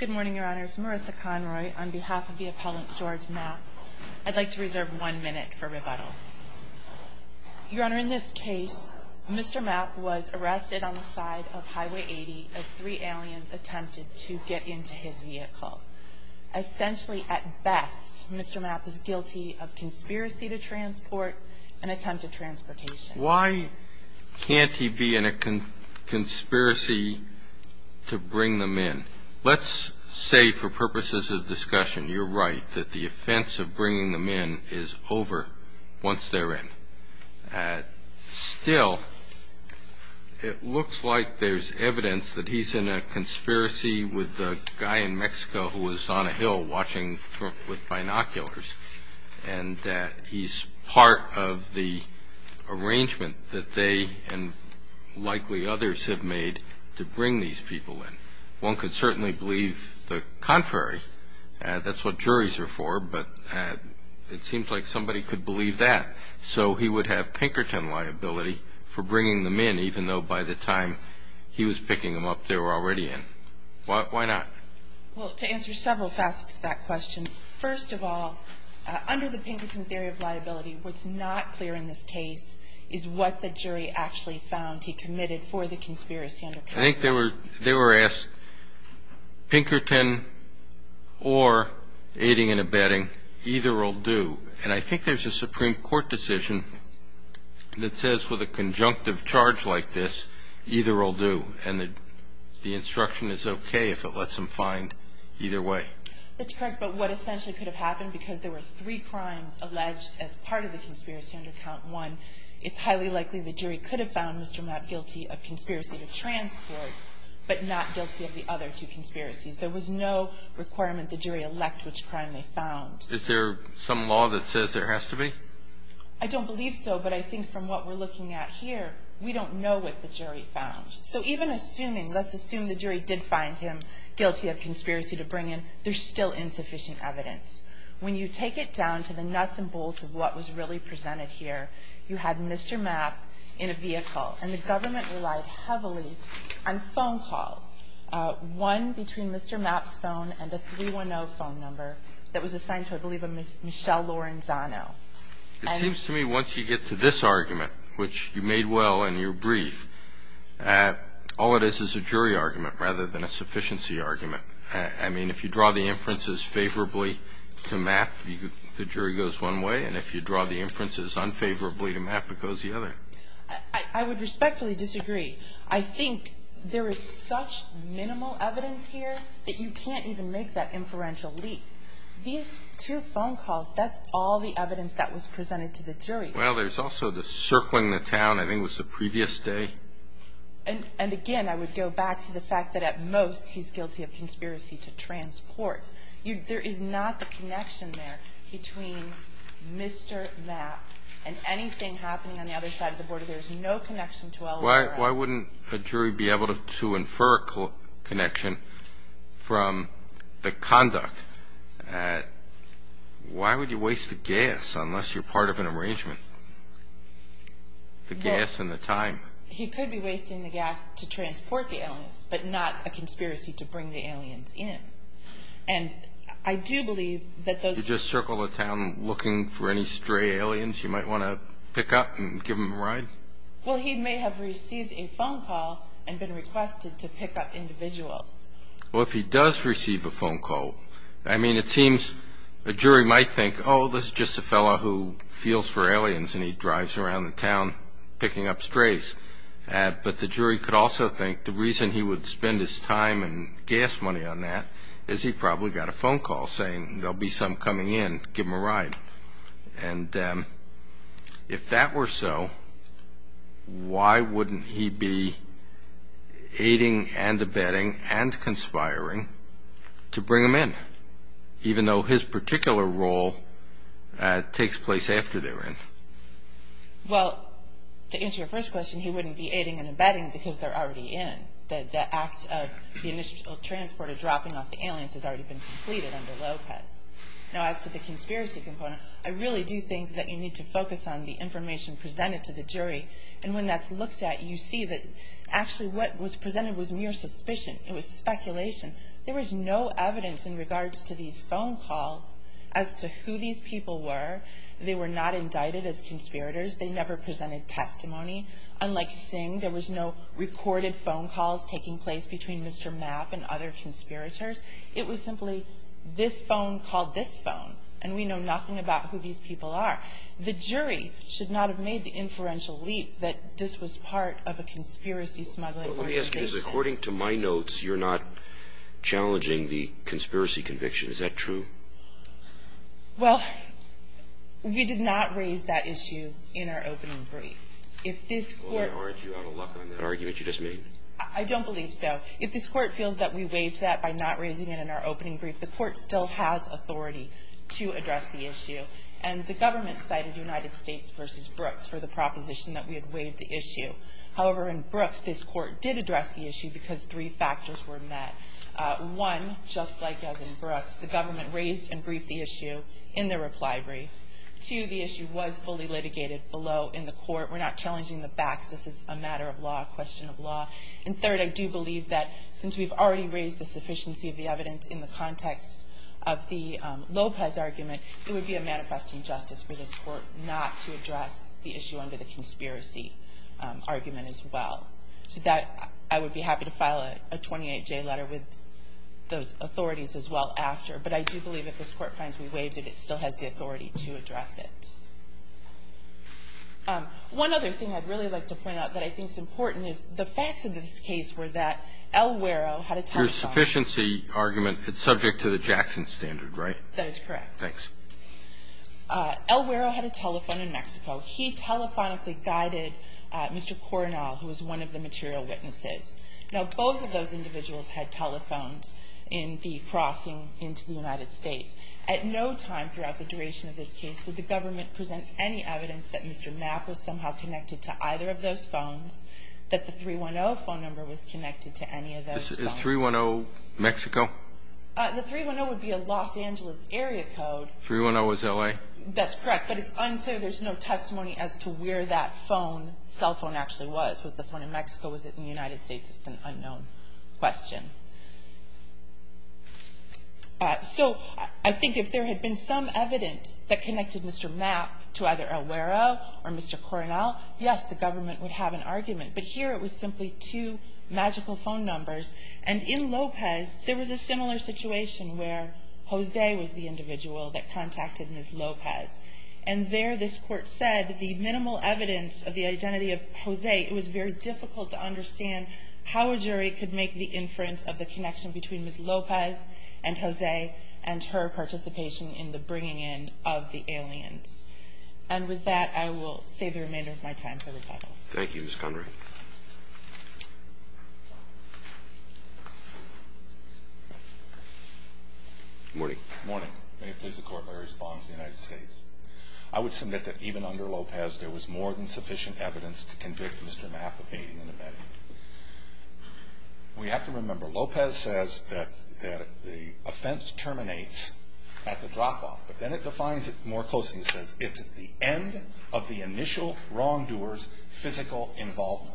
Good morning, your honors. Marissa Conroy on behalf of the appellant George Mapp. I'd like to reserve one minute for rebuttal. Your honor, in this case, Mr. Mapp was arrested on the side of Highway 80 as three aliens attempted to get into his vehicle. Essentially, at best, Mr. Mapp is guilty of conspiracy to transport and attempted transportation. Why can't he be in a conspiracy to bring them in? Let's say for purposes of discussion, you're right, that the offense of bringing them in is over once they're in. Still, it looks like there's evidence that he's in a conspiracy with the guy in Mexico who was on a hill watching with binoculars and that he's part of the arrangement that they and likely others have made to bring these people in. One could certainly believe the contrary. That's what juries are for, but it seems like somebody could believe that. So he would have Pinkerton liability for bringing them in, even though by the time he was picking them up, they were already in. Why not? Well, to answer several facets of that question, first of all, under the Pinkerton theory of liability, what's not clear in this case is what the jury actually found he committed for the conspiracy. I think they were asked, Pinkerton or aiding and abetting, either will do. And I think there's a Supreme Court decision that says with a conjunctive charge like this, either will do. And the instruction is okay if it lets them find either way. That's correct. But what essentially could have happened, because there were three crimes alleged as part of the conspiracy under count one, it's highly likely the jury could have found Mr. Mapp guilty of conspiracy to transport, but not guilty of the other two conspiracies. There was no requirement the jury elect which crime they found. Is there some law that says there has to be? I don't believe so, but I think from what we're looking at here, we don't know what the jury found. So even assuming, let's assume the jury did find him guilty of conspiracy to bring in, there's still insufficient evidence. When you take it down to the nuts and bolts of what was really presented here, you had Mr. Mapp in a vehicle, and the government relied heavily on phone calls, one between Mr. Mapp's phone and a 310 phone number that was assigned to, I believe, a Michelle Lorenzano. It seems to me once you get to this argument, which you made well in your brief, all it is is a jury argument rather than a sufficiency argument. I mean, if you draw the inferences favorably to Mapp, the jury goes one way, and if you draw the inferences unfavorably to Mapp, it goes the other. I would respectfully disagree. I think there is such minimal evidence here that you can't even make that inferential leap. These two phone calls, that's all the evidence that was presented to the jury. Well, there's also the circling the town, I think it was the previous day. And again, I would go back to the fact that at most he's guilty of conspiracy to transport. There is not the connection there between Mr. Mapp and anything happening on the other side of the border. There's no connection to L.A. Why would you waste the gas unless you're part of an arrangement? The gas and the time. He could be wasting the gas to transport the aliens, but not a conspiracy to bring the aliens in. And I do believe that those You just circle the town looking for any stray aliens you might want to pick up and give them a ride? Well, he may have received a phone call and been requested to pick up individuals. Well, if he does receive a phone call, I mean, it seems a jury might think, oh, this is just a fellow who feels for aliens and he drives around the town picking up strays. But the jury could also think the reason he would spend his time and gas money on that is he probably got a phone call saying there'll be some coming in, give them a ride. And if that were so, why wouldn't he be aiding and abetting and conspiring to bring them in, even though his particular role takes place after they're in? Well, to answer your first question, he wouldn't be aiding and abetting because they're already in. The act of the initial transport of dropping off the aliens has already been completed under Lopez. Now, as to the conspiracy component, I really do think that you need to focus on the information presented to the jury. And when that's looked at, you see that actually what was presented was mere suspicion. It was speculation. There was no evidence in regards to these phone calls as to who these people were. They were not indicted as conspirators. They never presented testimony. Unlike Singh, there was no recorded phone calls taking place between Mr. Mapp and other conspirators. It was simply this phone called this phone, and we know nothing about who these people are. The jury should not have made the inferential leap that this was part of a conspiracy smuggling organization. Well, let me ask you this. According to my notes, you're not challenging the conspiracy conviction. Is that true? Well, we did not raise that issue in our opening brief. If this Court ---- Well, then aren't you out of luck on that argument you just made? I don't believe so. If this Court feels that we waived that by not raising it in our opening brief, the Court still has authority to address the issue. And the government cited United States v. Brooks for the proposition that we had waived the issue. However, in Brooks, this Court did address the issue because three factors were met. One, just like as in Brooks, the government raised and briefed the issue in their reply brief. Two, the issue was fully litigated below in the Court. We're not challenging the facts. This is a matter of law, a question of law. And third, I do believe that since we've already raised the sufficiency of the evidence in the context of the Lopez argument, it would be a manifest injustice for this Court not to address the issue under the conspiracy argument as well. To that, I would be happy to file a 28-J letter with those authorities as well after. But I do believe if this Court finds we waived it, it still has the authority to address it. One other thing I'd really like to point out that I think is important is the facts of this case were that El Guero had a telephone. Your sufficiency argument, it's subject to the Jackson standard, right? That is correct. Thanks. El Guero had a telephone in Mexico. He telephonically guided Mr. Coronel, who was one of the material witnesses. Now, both of those individuals had telephones in the crossing into the United States. At no time throughout the duration of this case did the government present any evidence that Mr. Mapp was somehow connected to either of those phones, that the 310 phone number was connected to any of those phones. Is 310 Mexico? The 310 would be a Los Angeles area code. 310 was L.A.? That's correct. But it's unclear. There's no testimony as to where that cell phone actually was. Was the phone in Mexico? Was it in the United States? It's an unknown question. So I think if there had been some evidence that connected Mr. Mapp to either El Guero or Mr. Coronel, yes, the government would have an argument. But here it was simply two magical phone numbers. And in Lopez, there was a similar situation where Jose was the individual that contacted Ms. Lopez. And there this Court said the minimal evidence of the identity of Jose, it was very difficult to understand how a jury could make the inference of the connection between Ms. Lopez and Jose and her participation in the bringing in of the aliens. And with that, I will save the remainder of my time for rebuttal. Thank you, Ms. Conroy. Good morning. Good morning. May it please the Court, my response to the United States. I would submit that even under Lopez, there was more than sufficient evidence to convict Mr. Mapp of aiding and abetting. We have to remember, Lopez says that the offense terminates at the drop-off. But then it defines it more closely. It says it's at the end of the initial wrongdoer's physical involvement.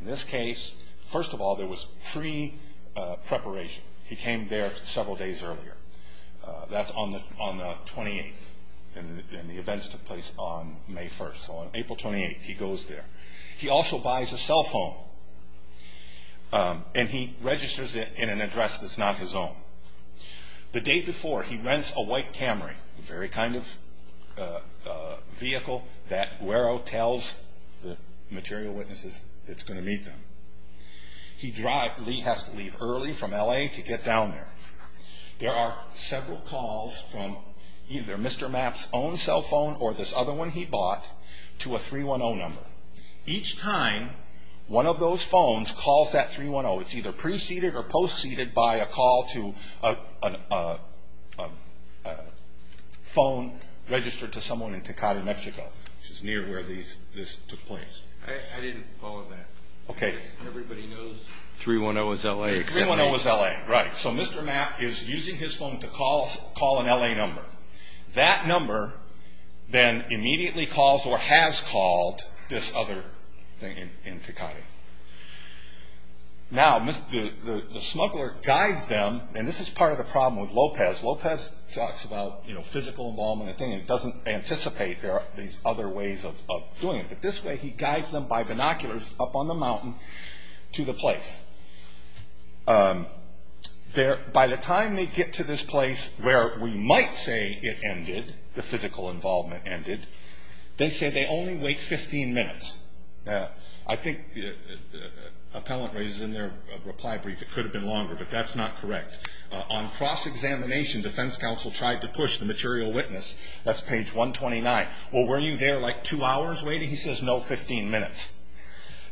In this case, first of all, there was pre-preparation. He came there several days earlier. That's on the 28th. And the events took place on May 1st. So on April 28th, he goes there. He also buys a cell phone, and he registers it in an address that's not his own. The day before, he rents a white Camry, the very kind of vehicle that Guero tells the material witnesses it's going to meet them. He has to leave early from L.A. to get down there. There are several calls from either Mr. Mapp's own cell phone or this other one he bought to a 310 number. Each time, one of those phones calls that 310. It's either pre-seeded or post-seeded by a call to a phone registered to someone in Tecate, Mexico, which is near where this took place. I didn't follow that. Okay. Everybody knows 310 is L.A. 310 is L.A., right. So Mr. Mapp is using his phone to call an L.A. number. That number then immediately calls or has called this other thing in Tecate. Now, the smuggler guides them, and this is part of the problem with Lopez. Lopez talks about physical involvement and things. He doesn't anticipate these other ways of doing it. This way, he guides them by binoculars up on the mountain to the place. By the time they get to this place where we might say it ended, the physical involvement ended, they say they only wait 15 minutes. I think appellant raises in their reply brief it could have been longer, but that's not correct. On cross-examination, defense counsel tried to push the material witness. That's page 129. Well, were you there like two hours waiting? He says, no, 15 minutes.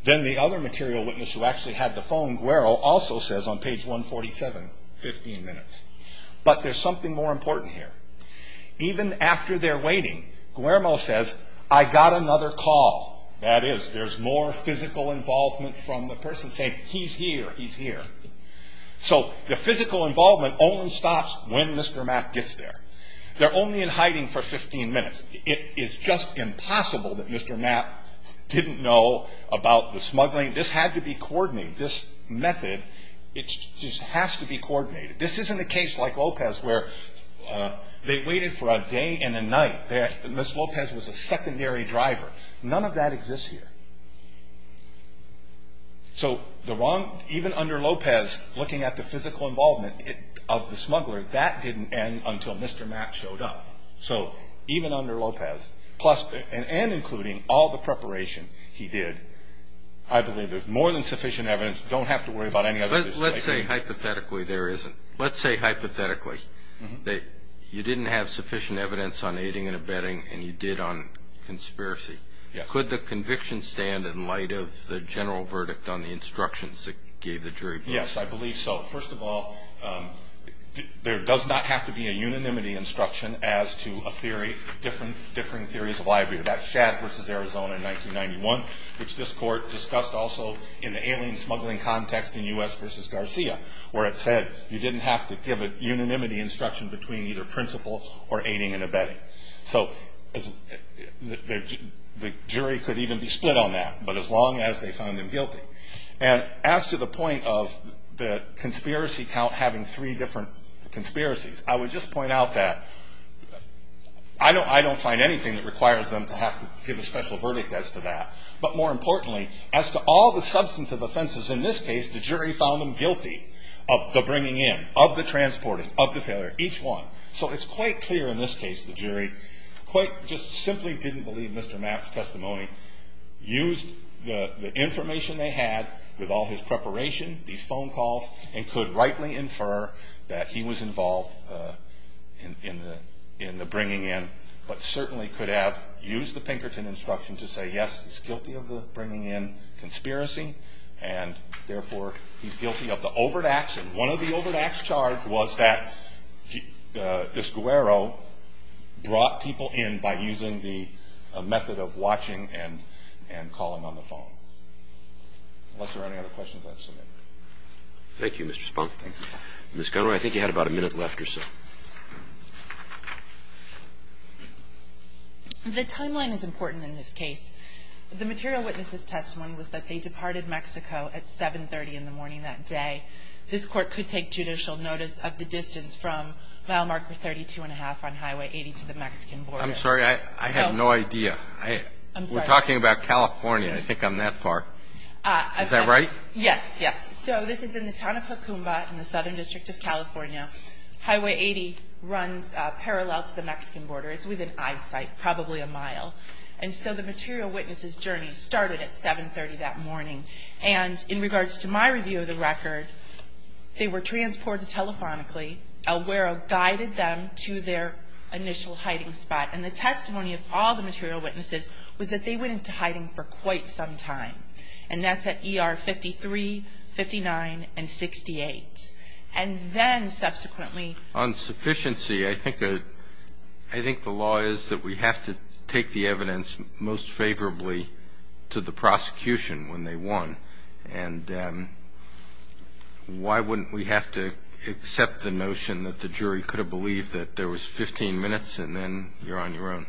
Then the other material witness who actually had the phone, Guero, also says on page 147, 15 minutes. But there's something more important here. Even after they're waiting, Guero says, I got another call. That is, there's more physical involvement from the person saying, he's here, he's here. So the physical involvement only stops when Mr. Mapp gets there. They're only in hiding for 15 minutes. It is just impossible that Mr. Mapp didn't know about the smuggling. This had to be coordinated. This method, it just has to be coordinated. This isn't a case like Lopez where they waited for a day and a night. Ms. Lopez was a secondary driver. None of that exists here. So the wrong, even under Lopez, looking at the physical involvement of the smuggler, that didn't end until Mr. Mapp showed up. So even under Lopez, plus and including all the preparation he did, I believe there's more than sufficient evidence. Don't have to worry about any of this. Let's say hypothetically there isn't. Let's say hypothetically that you didn't have sufficient evidence on aiding and abetting and you did on conspiracy. Yes. Could the conviction stand in light of the general verdict on the instructions that gave the jury? Yes, I believe so. First of all, there does not have to be a unanimity instruction as to a theory, different theories of liability. That's Shadd v. Arizona in 1991, which this court discussed also in the alien smuggling context in U.S. v. Garcia, where it said you didn't have to give a unanimity instruction between either principle or aiding and abetting. So the jury could even be split on that, but as long as they found him guilty. And as to the point of the conspiracy count having three different conspiracies, I would just point out that I don't find anything that requires them to have to give a special verdict as to that. But more importantly, as to all the substantive offenses in this case, the jury found them guilty of the bringing in, of the transporting, of the failure, each one. So it's quite clear in this case the jury quite just simply didn't believe Mr. Matt's testimony, used the information they had with all his preparation, these phone calls, and could rightly infer that he was involved in the bringing in, but certainly could have used the Pinkerton instruction to say, yes, he's guilty of the bringing in conspiracy, and therefore he's guilty of the overtaxing. One of the overtaxed charge was that this guero brought people in by using the method of watching and calling on the phone. Unless there are any other questions I've submitted. Thank you, Mr. Spohn. Thank you. Ms. Gunner, I think you had about a minute left or so. The timeline is important in this case. The material witness's testimony was that they departed Mexico at 730 in the morning that day. This Court could take judicial notice of the distance from mile marker 32-and-a-half on Highway 80 to the Mexican border. I'm sorry. I have no idea. I'm sorry. We're talking about California. I think I'm that far. Is that right? Yes, yes. So this is in the town of Jocumbo in the Southern District of California. Highway 80 runs parallel to the Mexican border. It's within eyesight, probably a mile. And so the material witness's journey started at 730 that morning. And in regards to my review of the record, they were transported telephonically. Elguero guided them to their initial hiding spot. And the testimony of all the material witnesses was that they went into hiding for quite some time. And that's at ER 53, 59, and 68. And then subsequently ---- On sufficiency, I think the law is that we have to take the evidence most favorably to the prosecution when they won. And why wouldn't we have to accept the notion that the jury could have believed that there was 15 minutes and then you're on your own?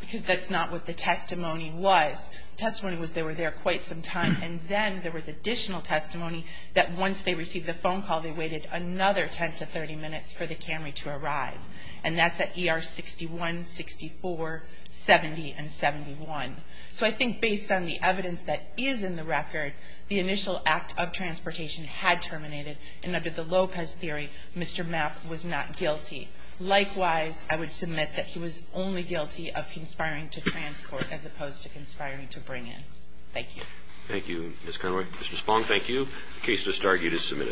Because that's not what the testimony was. The testimony was they were there quite some time. And then there was additional testimony that once they received the phone call, they waited another 10 to 30 minutes for the Camry to arrive. And that's at ER 61, 64, 70, and 71. So I think based on the evidence that is in the record, the initial act of transportation had terminated. And under the Lopez theory, Mr. Mapp was not guilty. Likewise, I would submit that he was only guilty of conspiring to transport as opposed to conspiring to bring in. Thank you. Thank you, Ms. Conaway. Mr. Spong, thank you. The case is disargued as submitted.